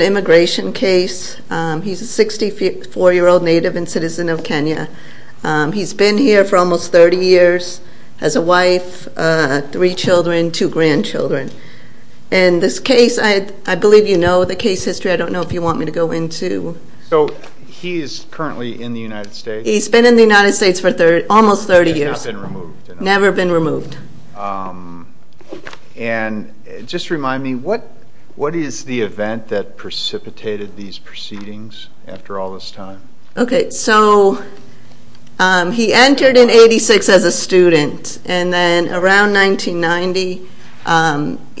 immigration case. He's a 64-year-old native and citizen of Kenya. He's been here for almost 30 years as a wife, three children, two grandchildren. And this case, I believe you know the case history. I don't know if you want me to go into... So he is currently in the United States? He's been in the United States for almost 30 years. Never been removed? Never been removed. And just remind me, what is the event that precipitated these proceedings after all this time? Okay, so he entered in 86 as a student. And then around 1990,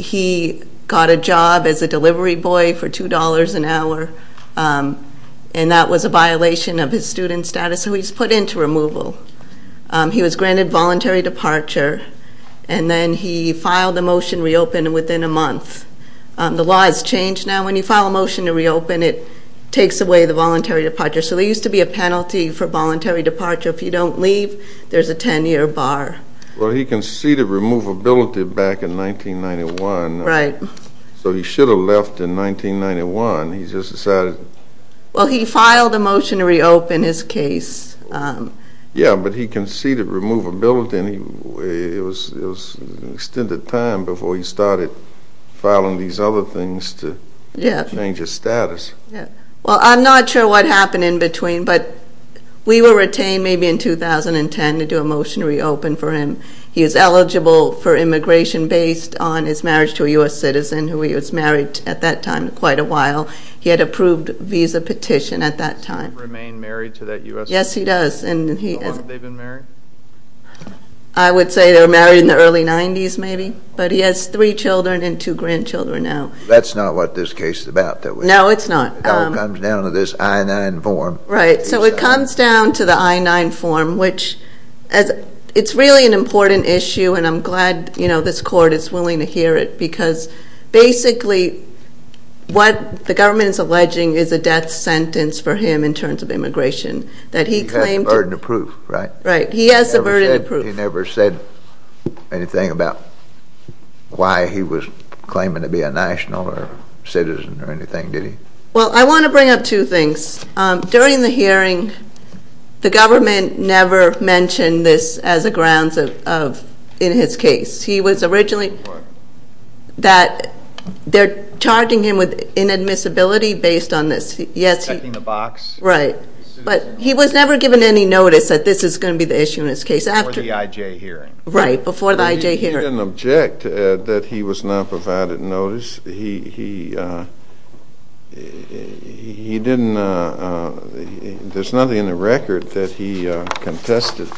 he got a job as a delivery boy for $2 an hour. And that was a violation of his student status, so he was put into removal. He was granted voluntary departure. And then he filed a motion to reopen within a month. The law has changed now. When you file a motion to reopen, it takes away the voluntary departure. So there used to be a penalty for voluntary departure. If you don't leave, there's a 10-year bar. Well, he conceded removability back in 1991. Right. So he should have left in 1991. He just decided... Well, he filed a motion to reopen his case. Yeah, but he conceded removability, and it was an extended time before he started filing these other things to change his status. Yeah. Well, I'm not sure what happened in between, but we were retained maybe in 2010 to do a motion to reopen for him. He was eligible for immigration based on his marriage to a U.S. citizen, who he was married to at that time for quite a while. He had approved a visa petition at that time. Does he remain married to that U.S. citizen? Yes, he does. How long have they been married? I would say they were married in the early 90s maybe, but he has three children and two grandchildren now. That's not what this case is about. No, it's not. It all comes down to this I-9 form. Right. So it comes down to the I-9 form, which it's really an important issue, and I'm glad this court is willing to hear it because basically what the government is alleging is a death sentence for him in terms of immigration. He has the burden of proof, right? Right. He has the burden of proof. He never said anything about why he was claiming to be a national or citizen or anything, did he? Well, I want to bring up two things. During the hearing, the government never mentioned this as a grounds in his case. What? That they're charging him with inadmissibility based on this. Yes. Checking the box? Right. But he was never given any notice that this is going to be the issue in his case. Before the IJ hearing. Right, before the IJ hearing. He didn't object that he was not provided notice. He didn't. There's nothing in the record that he contested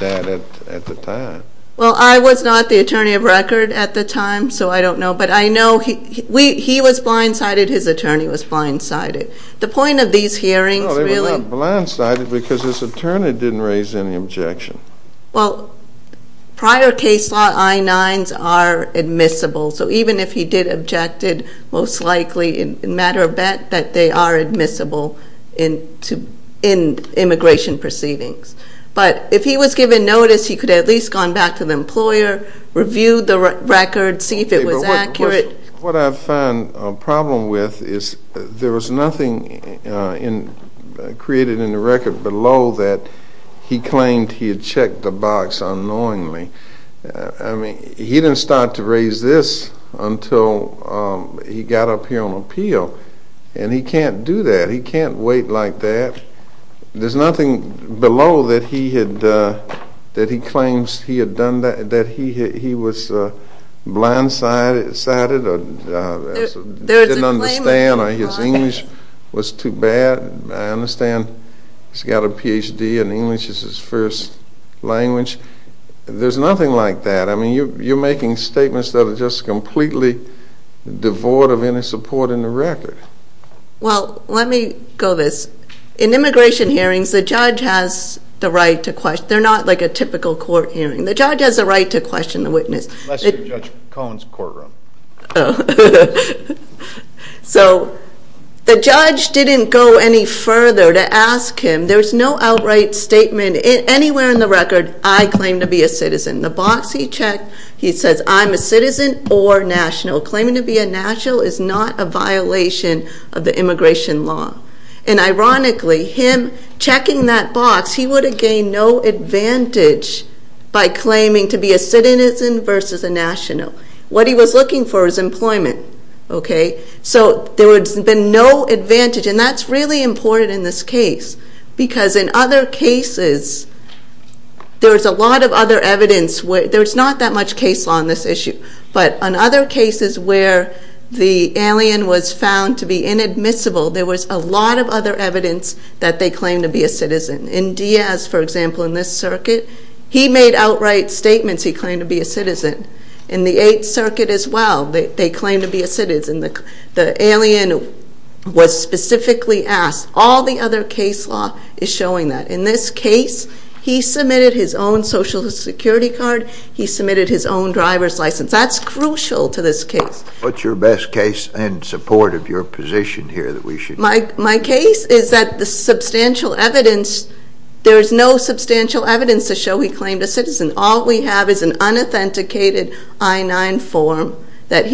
that at the time. Well, I was not the attorney of record at the time, so I don't know. But I know he was blindsided. His attorney was blindsided. The point of these hearings really – No, they were not blindsided because his attorney didn't raise any objection. Well, prior case law I-9s are admissible. So even if he did object it, most likely, in a matter of fact, that they are admissible in immigration proceedings. But if he was given notice, he could have at least gone back to the employer, reviewed the record, see if it was accurate. What I find a problem with is there was nothing created in the record below that he claimed he had checked the box unknowingly. I mean, he didn't start to raise this until he got up here on appeal, and he can't do that. He can't wait like that. There's nothing below that he claims he was blindsided or didn't understand or his English was too bad. I understand he's got a Ph.D. in English as his first language. There's nothing like that. I mean, you're making statements that are just completely devoid of any support in the record. Well, let me go this. In immigration hearings, the judge has the right to question. They're not like a typical court hearing. The judge has the right to question the witness. Unless you're Judge Cohen's courtroom. So the judge didn't go any further to ask him. There's no outright statement anywhere in the record, I claim to be a citizen. The box he checked, he says, I'm a citizen or national. Claiming to be a national is not a violation of the immigration law. And ironically, him checking that box, he would have gained no advantage by claiming to be a citizen versus a national. What he was looking for was employment. So there would have been no advantage, and that's really important in this case because in other cases, there's a lot of other evidence. There's not that much case law on this issue. But on other cases where the alien was found to be inadmissible, there was a lot of other evidence that they claimed to be a citizen. In Diaz, for example, in this circuit, he made outright statements he claimed to be a citizen. In the 8th Circuit as well, they claimed to be a citizen. The alien was specifically asked. All the other case law is showing that. In this case, he submitted his own Social Security card. He submitted his own driver's license. That's crucial to this case. What's your best case in support of your position here that we should? My case is that the substantial evidence, there's no substantial evidence to show he claimed a citizen. All we have is an unauthenticated I-9 form that,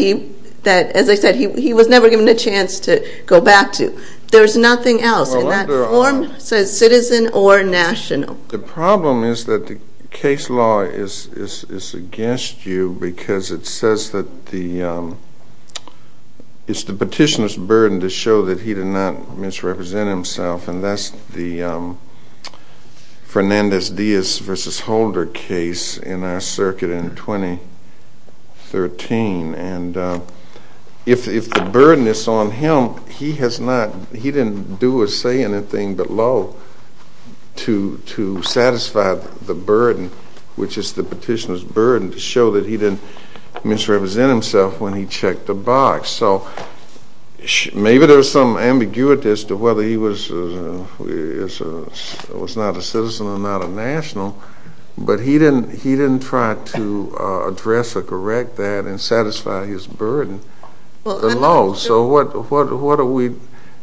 as I said, he was never given a chance to go back to. There's nothing else in that form that says citizen or national. The problem is that the case law is against you because it says that it's the petitioner's burden to show that he did not misrepresent himself. And that's the Fernandez-Diaz v. Holder case in our circuit in 2013. And if the burden is on him, he has not, he didn't do or say anything below to satisfy the burden, which is the petitioner's burden to show that he didn't misrepresent himself when he checked the box. So maybe there's some ambiguity as to whether he was not a citizen or not a national, but he didn't try to address or correct that and satisfy his burden alone. So what are we,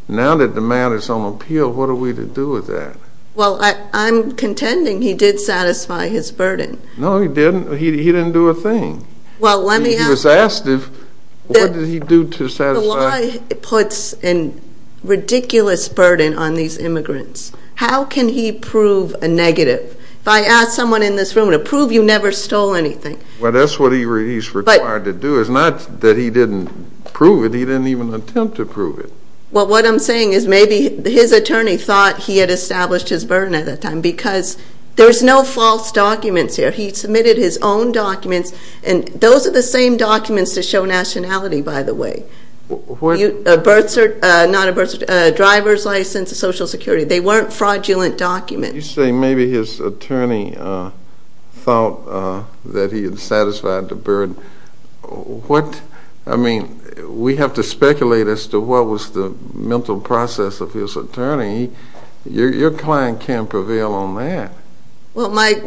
now that the matter is on appeal, what are we to do with that? Well, I'm contending he did satisfy his burden. No, he didn't. He didn't do a thing. He was asked what did he do to satisfy. The law puts a ridiculous burden on these immigrants. How can he prove a negative? If I ask someone in this room to prove you never stole anything. Well, that's what he's required to do. It's not that he didn't prove it. He didn't even attempt to prove it. Well, what I'm saying is maybe his attorney thought he had established his burden at that time because there's no false documents here. He submitted his own documents, and those are the same documents to show nationality, by the way. A birth certificate, not a birth certificate, a driver's license, Social Security. They weren't fraudulent documents. You say maybe his attorney thought that he had satisfied the burden. What, I mean, we have to speculate as to what was the mental process of his attorney. Your client can't prevail on that. Well, Mike,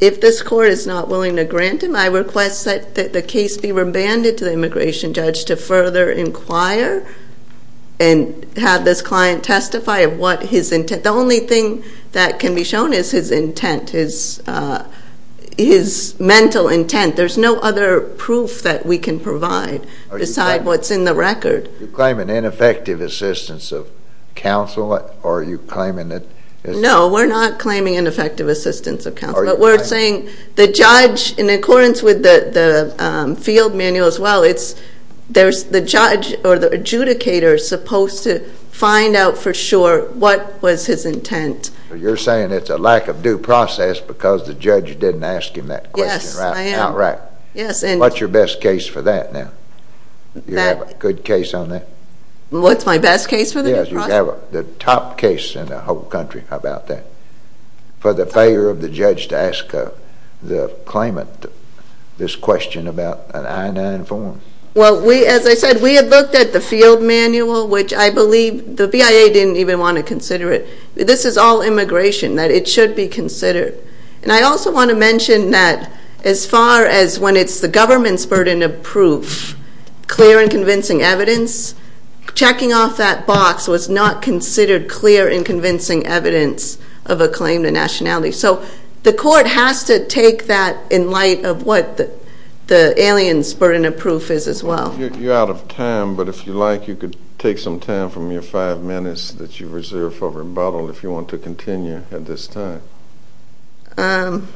if this court is not willing to grant him, I request that the case be remanded to the immigration judge to further inquire and have this client testify of what his intent. The only thing that can be shown is his intent, his mental intent. There's no other proof that we can provide beside what's in the record. You claim an ineffective assistance of counsel, or are you claiming that it's… No, we're not claiming ineffective assistance of counsel. But we're saying the judge, in accordance with the field manual as well, the judge or the adjudicator is supposed to find out for sure what was his intent. You're saying it's a lack of due process because the judge didn't ask him that question outright. Yes, I am. What's your best case for that now? You have a good case on that? What's my best case for the due process? Yes, you have the top case in the whole country about that, for the failure of the judge to ask the claimant this question about an I-9 form. Well, as I said, we have looked at the field manual, which I believe the BIA didn't even want to consider it. This is all immigration, that it should be considered. And I also want to mention that as far as when it's the government's burden of proof, clear and convincing evidence, checking off that box was not considered clear and convincing evidence of a claim to nationality. So the court has to take that in light of what the alien's burden of proof is as well. You're out of time, but if you like, you could take some time from your five minutes that you reserve for rebuttal if you want to continue at this time. Well,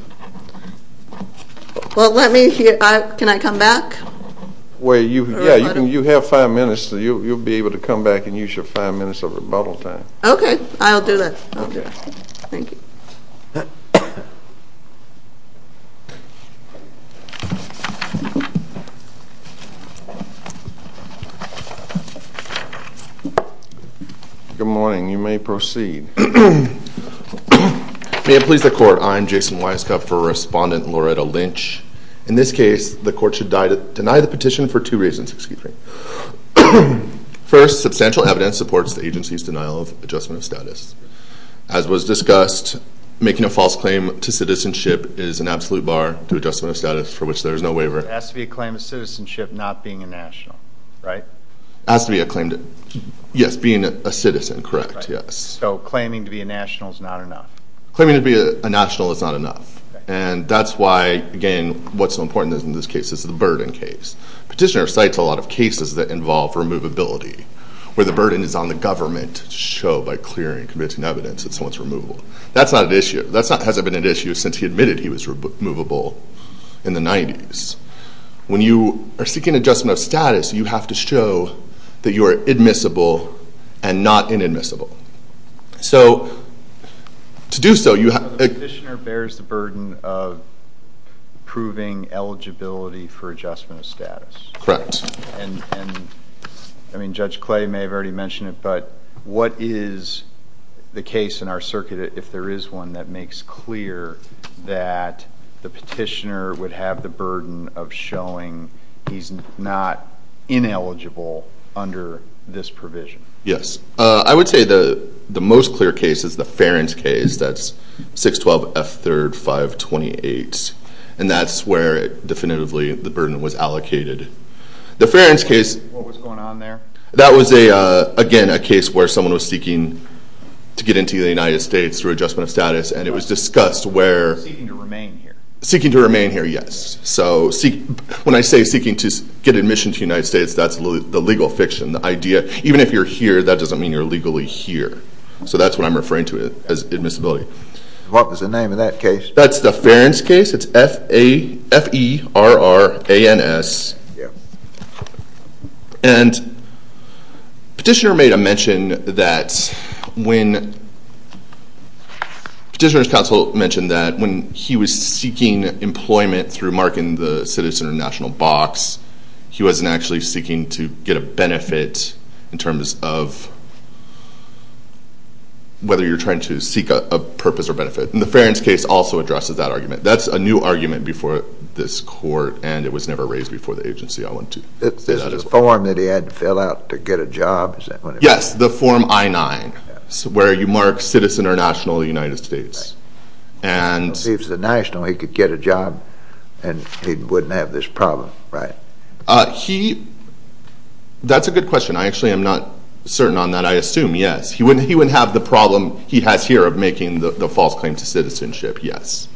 let me hear. Can I come back? Yeah, you have five minutes, so you'll be able to come back and use your five minutes of rebuttal time. Okay, I'll do that. Okay. Thank you. Good morning. You may proceed. May it please the court, I am Jason Weiskopf for Respondent Loretta Lynch. In this case, the court should deny the petition for two reasons. First, substantial evidence supports the agency's denial of adjustment of status. As was discussed, making a false claim to citizenship is an absolute bar to adjustment of status, for which there is no waiver. It has to be a claim of citizenship not being a national, right? It has to be a claim to, yes, being a citizen, correct, yes. So claiming to be a national is not enough? Claiming to be a national is not enough, and that's why, again, what's so important in this case is the burden case. Petitioner cites a lot of cases that involve removability, where the burden is on the government to show by clearing convincing evidence that someone's removable. That's not an issue. That hasn't been an issue since he admitted he was removable in the 90s. When you are seeking adjustment of status, you have to show that you are admissible and not inadmissible. So to do so, you have to- The petitioner bears the burden of proving eligibility for adjustment of status. Correct. And, I mean, Judge Clay may have already mentioned it, but what is the case in our circuit, if there is one, that makes clear that the petitioner would have the burden of showing he's not ineligible under this provision? Yes. I would say the most clear case is the Ferens case. That's 612F3-528, and that's where, definitively, the burden was allocated. The Ferens case- What was going on there? That was, again, a case where someone was seeking to get into the United States through adjustment of status, and it was discussed where- Seeking to remain here. Seeking to remain here, yes. So when I say seeking to get admission to the United States, that's the legal fiction, the idea. Even if you're here, that doesn't mean you're legally here. So that's what I'm referring to as admissibility. What was the name of that case? That's the Ferens case. It's F-E-R-R-A-N-S. And petitioner made a mention that when petitioner's counsel mentioned that when he was seeking employment through marking the citizen or national box, he wasn't actually seeking to get a benefit in terms of whether you're trying to seek a purpose or benefit. And the Ferens case also addresses that argument. That's a new argument before this court, and it was never raised before the agency I went to. Is this the form that he had to fill out to get a job? Yes, the form I-9, where you mark citizen or national of the United States. If he was a national, he could get a job, and he wouldn't have this problem, right? That's a good question. I actually am not certain on that. I assume, yes. He wouldn't have the problem he has here of making the false claim to citizenship, yes.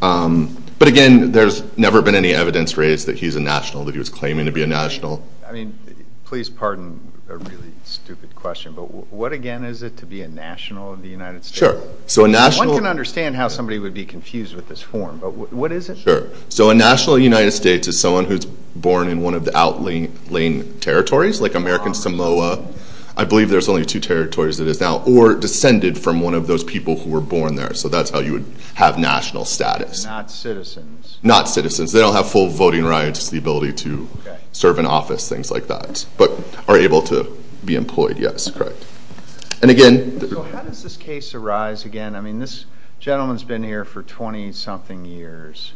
But, again, there's never been any evidence raised that he's a national, that he was claiming to be a national. I mean, please pardon a really stupid question, but what, again, is it to be a national of the United States? Sure. One can understand how somebody would be confused with this form, but what is it? Sure. So a national of the United States is someone who's born in one of the outlying territories, like American Samoa. I believe there's only two territories that is now, or descended from one of those people who were born there. So that's how you would have national status. Not citizens. Not citizens. They don't have full voting rights, the ability to serve in office, things like that, but are able to be employed, yes, correct. So how does this case arise again? I mean, this gentleman's been here for 20-something years,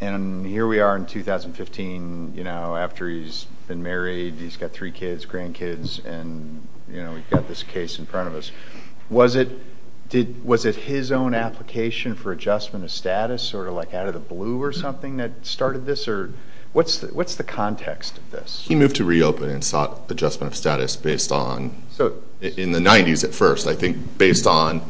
and here we are in 2015. After he's been married, he's got three kids, grandkids, and we've got this case in front of us. Was it his own application for adjustment of status, sort of like out of the blue or something, that started this? What's the context of this? He moved to reopen and sought adjustment of status based on, in the 90s at first, I think, based on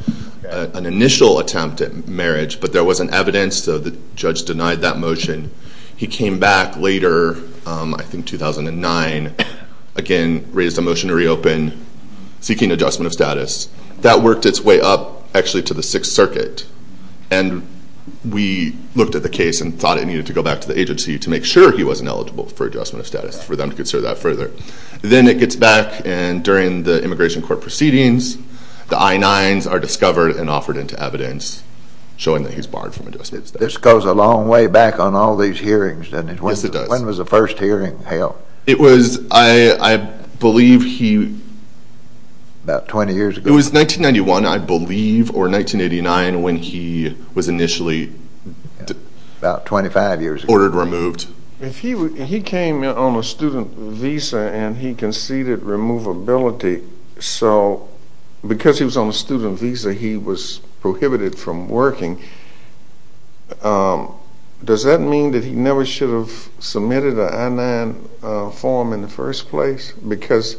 an initial attempt at marriage, but there wasn't evidence, so the judge denied that motion. He came back later, I think 2009, again, raised a motion to reopen, seeking adjustment of status. That worked its way up, actually, to the Sixth Circuit, and we looked at the case and thought it needed to go back to the agency to make sure he wasn't eligible for adjustment of status for them to consider that further. Then it gets back, and during the immigration court proceedings, the I-9s are discovered and offered into evidence, showing that he's barred from adjustment of status. This goes a long way back on all these hearings, doesn't it? Yes, it does. When was the first hearing held? It was, I believe he... About 20 years ago. It was 1991, I believe, or 1989, when he was initially... About 25 years ago. ...ordered removed. He came on a student visa, and he conceded removability, so because he was on a student visa, he was prohibited from working. Does that mean that he never should have submitted an I-9 form in the first place? Because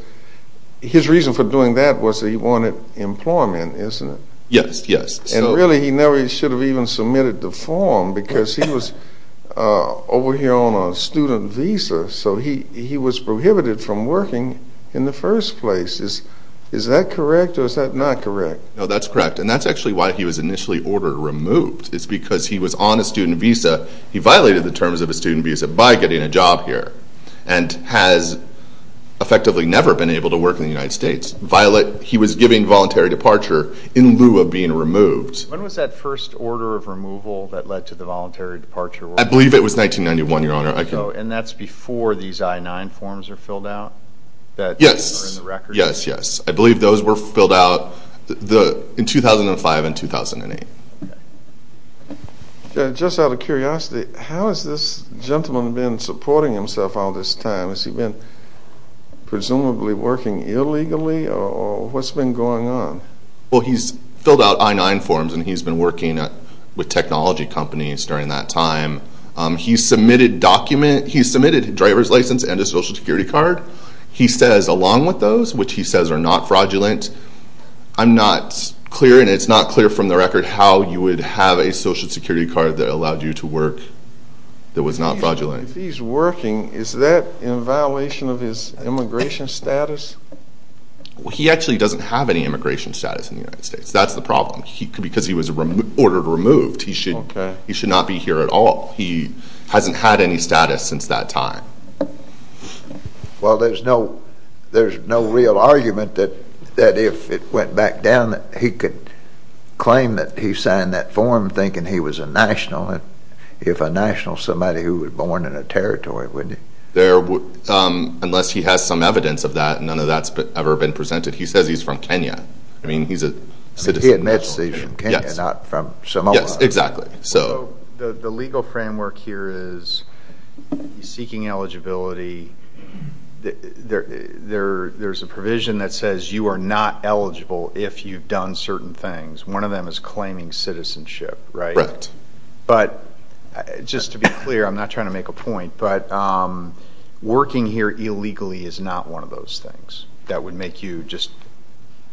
his reason for doing that was that he wanted employment, isn't it? Yes, yes. Really, he never should have even submitted the form because he was over here on a student visa, so he was prohibited from working in the first place. Is that correct, or is that not correct? No, that's correct, and that's actually why he was initially ordered removed. It's because he was on a student visa. He violated the terms of a student visa by getting a job here and has effectively never been able to work in the United States. He was giving voluntary departure in lieu of being removed. When was that first order of removal that led to the voluntary departure? I believe it was 1991, Your Honor. And that's before these I-9 forms are filled out? Yes, yes, yes. I believe those were filled out in 2005 and 2008. Just out of curiosity, how has this gentleman been supporting himself all this time? Has he been presumably working illegally, or what's been going on? Well, he's filled out I-9 forms, and he's been working with technology companies during that time. He submitted a driver's license and a Social Security card. He says along with those, which he says are not fraudulent, I'm not clear, and it's not clear from the record how you would have a Social Security card that allowed you to work that was not fraudulent. If he's working, is that in violation of his immigration status? Well, he actually doesn't have any immigration status in the United States. That's the problem, because he was ordered removed. He should not be here at all. He hasn't had any status since that time. Well, there's no real argument that if it went back down, that he could claim that he signed that form thinking he was a national. If a national is somebody who was born in a territory, wouldn't he? Unless he has some evidence of that, none of that's ever been presented. He says he's from Kenya. He admits he's from Kenya, not from Samoa. Yes, exactly. The legal framework here is he's seeking eligibility. There's a provision that says you are not eligible if you've done certain things. One of them is claiming citizenship, right? Correct. But just to be clear, I'm not trying to make a point, but working here illegally is not one of those things that would make you just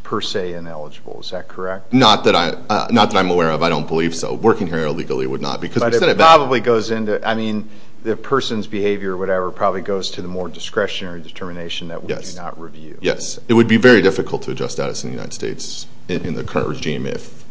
per se ineligible. Is that correct? Not that I'm aware of. I don't believe so. Working here illegally would not. But it probably goes into, I mean, the person's behavior or whatever probably goes to the more discretionary determination that we do not review. Yes. It would be very difficult to adjust status in the United States in the current regime if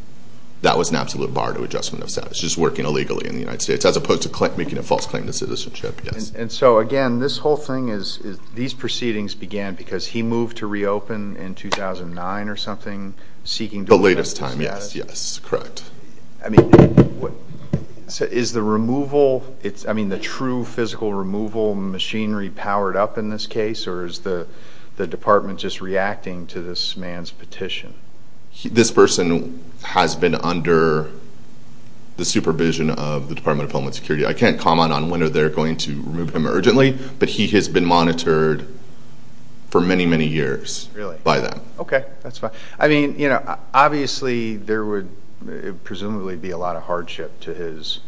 that was an absolute bar to adjustment of status, just working illegally in the United States as opposed to making a false claim to citizenship. Yes. And so, again, this whole thing is these proceedings began because he moved to reopen in 2009 or something, seeking to do that. The latest time, yes. Yes, correct. I mean, is the removal, I mean, the true physical removal machinery powered up in this case, or is the department just reacting to this man's petition? This person has been under the supervision of the Department of Homeland Security. I can't comment on when they're going to remove him urgently, but he has been monitored for many, many years by them. Really? Okay, that's fine. I mean, you know, obviously there would presumably be a lot of hardship to his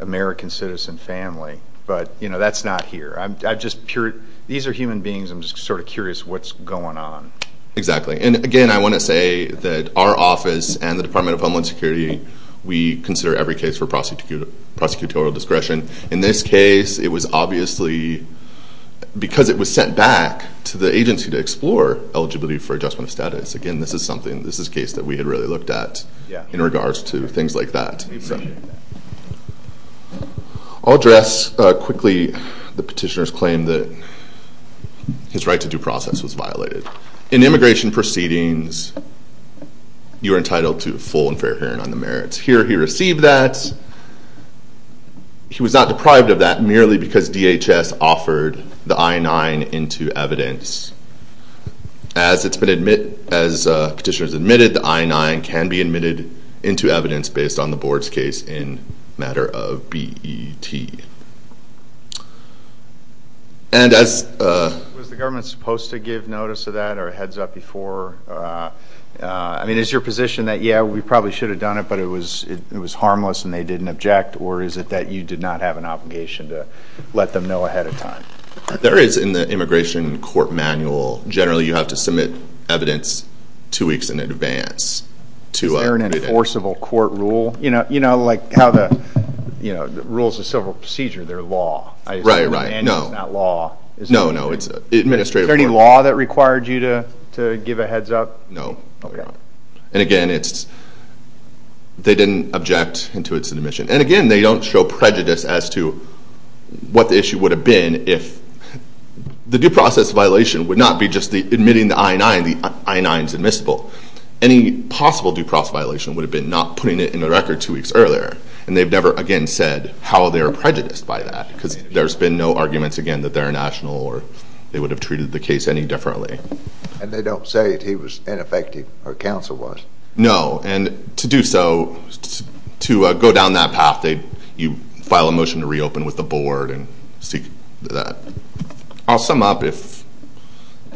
American citizen family, but, you know, that's not here. These are human beings. I'm just sort of curious what's going on. Exactly. And, again, I want to say that our office and the Department of Homeland Security, we consider every case for prosecutorial discretion. In this case, it was obviously because it was sent back to the agency to explore eligibility for adjustment of status. Again, this is something, this is a case that we had really looked at in regards to things like that. I'll address quickly the petitioner's claim that his right to due process was violated. In immigration proceedings, you are entitled to full and fair hearing on the merits. Here he received that. He was not deprived of that merely because DHS offered the I-9 into evidence. As it's been admitted, as petitioner's admitted, the I-9 can be admitted into evidence based on the board's case in matter of BET. Was the government supposed to give notice of that or a heads up before? I mean, is your position that, yeah, we probably should have done it, but it was harmless and they didn't object, or is it that you did not have an obligation to let them know ahead of time? There is, in the immigration court manual, generally you have to submit evidence two weeks in advance. Is there an enforceable court rule? You know, like how the rules of civil procedure, they're law. Right, right, no. The manual is not law. No, no, it's administrative. Is there any law that required you to give a heads up? No. And again, they didn't object to its admission. And again, they don't show prejudice as to what the issue would have been if the due process violation would not be just admitting the I-9, the I-9 is admissible. Any possible due process violation would have been not putting it in the record two weeks earlier, and they've never again said how they were prejudiced by that because there's been no arguments again that they're a national or they would have treated the case any differently. And they don't say that he was ineffective or counsel was. No, and to do so, to go down that path, you file a motion to reopen with the board and seek that. I'll sum up if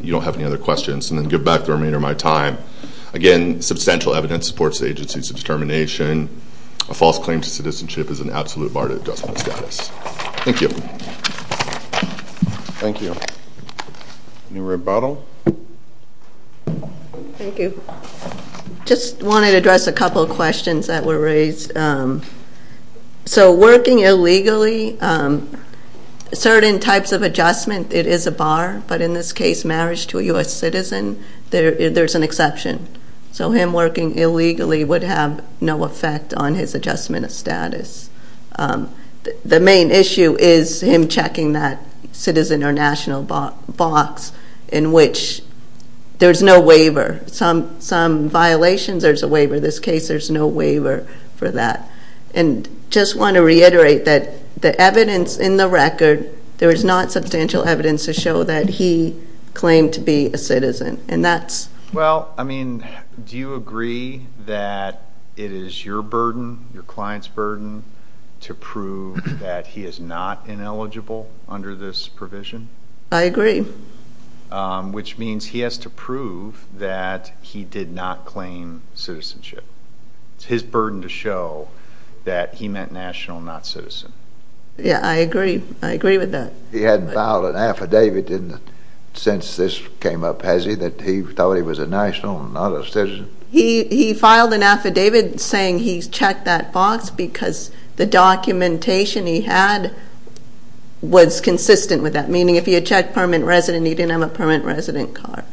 you don't have any other questions and then give back the remainder of my time. Again, substantial evidence supports the agency's determination. A false claim to citizenship is an absolute bar to adjustment of status. Thank you. Thank you. Any rebuttal? Thank you. Just wanted to address a couple of questions that were raised. So working illegally, certain types of adjustment, it is a bar. But in this case, marriage to a U.S. citizen, there's an exception. So him working illegally would have no effect on his adjustment of status. The main issue is him checking that citizen or national box in which there's no waiver. Some violations, there's a waiver. In this case, there's no waiver for that. And just want to reiterate that the evidence in the record, there is not substantial evidence to show that he claimed to be a citizen. Well, I mean, do you agree that it is your burden, your client's burden, to prove that he is not ineligible under this provision? I agree. Which means he has to prove that he did not claim citizenship. It's his burden to show that he meant national, not citizen. Yeah, I agree. I agree with that. He hadn't filed an affidavit since this came up, has he, that he thought he was a national and not a citizen? He filed an affidavit saying he checked that box because the documentation he had was consistent with that, meaning if he had checked permanent resident, he didn't have a permanent resident card.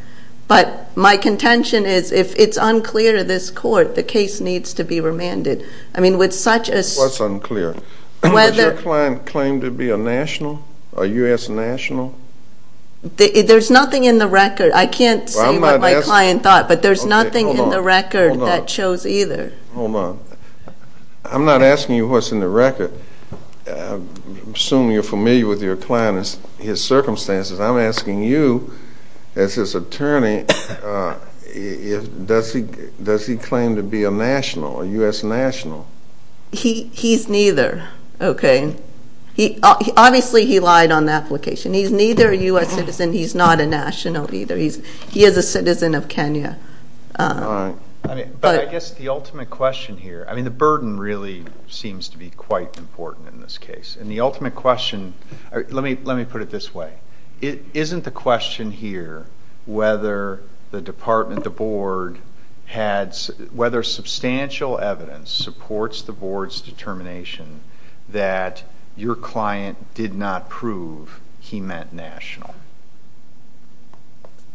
But my contention is if it's unclear to this court, the case needs to be remanded. I mean, with such a – What's unclear? Does your client claim to be a national, a U.S. national? There's nothing in the record. I can't say what my client thought, but there's nothing in the record that shows either. Hold on. I'm not asking you what's in the record. I'm assuming you're familiar with your client and his circumstances. I'm asking you, as his attorney, does he claim to be a national, a U.S. national? He's neither, okay? Obviously, he lied on the application. He's neither a U.S. citizen, he's not a national either. He is a citizen of Kenya. But I guess the ultimate question here, I mean, the burden really seems to be quite important in this case. And the ultimate question – let me put it this way. Isn't the question here whether the department, the board, whether substantial evidence supports the board's determination that your client did not prove he meant national?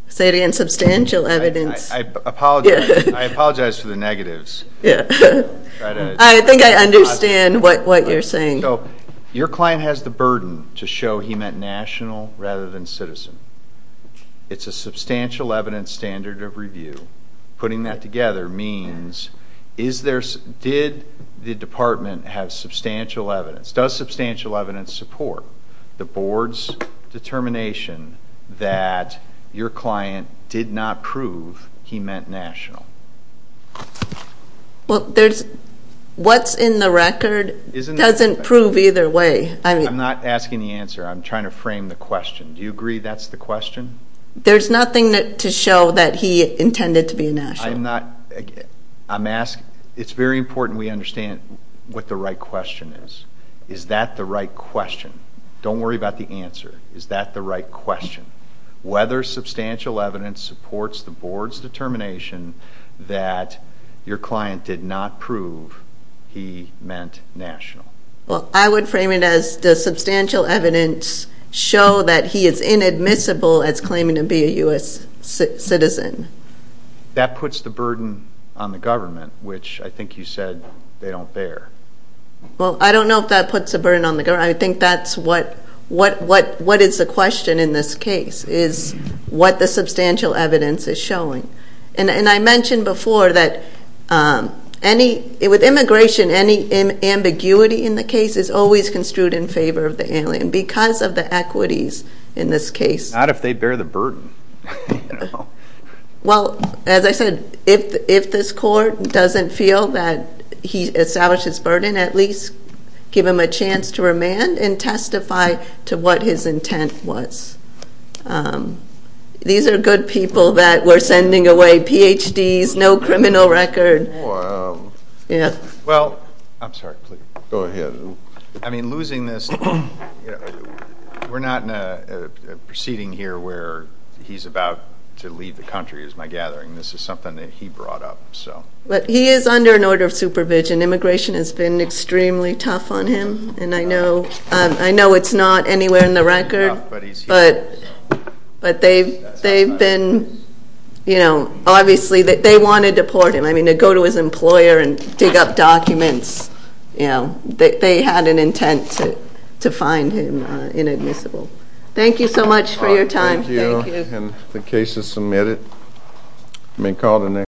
Say it again. Substantial evidence. I apologize for the negatives. I think I understand what you're saying. So your client has the burden to show he meant national rather than citizen. It's a substantial evidence standard of review. Putting that together means did the department have substantial evidence? Does substantial evidence support the board's determination that your client did not prove he meant national? Well, there's – what's in the record doesn't prove either way. I'm not asking the answer. I'm trying to frame the question. Do you agree that's the question? There's nothing to show that he intended to be national. I'm not – I'm asking – it's very important we understand what the right question is. Is that the right question? Don't worry about the answer. Is that the right question? Whether substantial evidence supports the board's determination that your client did not prove he meant national? Well, I would frame it as does substantial evidence show that he is inadmissible as claiming to be a U.S. citizen? That puts the burden on the government, which I think you said they don't bear. Well, I don't know if that puts a burden on the government. I think that's what – what is the question in this case is what the substantial evidence is showing. And I mentioned before that any – with immigration, any ambiguity in the case is always construed in favor of the alien because of the equities in this case. Not if they bear the burden. Well, as I said, if this court doesn't feel that he established his burden, at least give him a chance to remand and testify to what his intent was. These are good people that we're sending away PhDs, no criminal record. Well, I'm sorry. Go ahead. I mean, losing this – we're not in a proceeding here where he's about to leave the country is my gathering. This is something that he brought up. But he is under an order of supervision. Immigration has been extremely tough on him, and I know it's not anywhere in the record. But he's here. But they've been – obviously, they want to deport him. I mean, to go to his employer and dig up documents. They had an intent to find him inadmissible. Thank you so much for your time. Thank you. Thank you. And the case is submitted.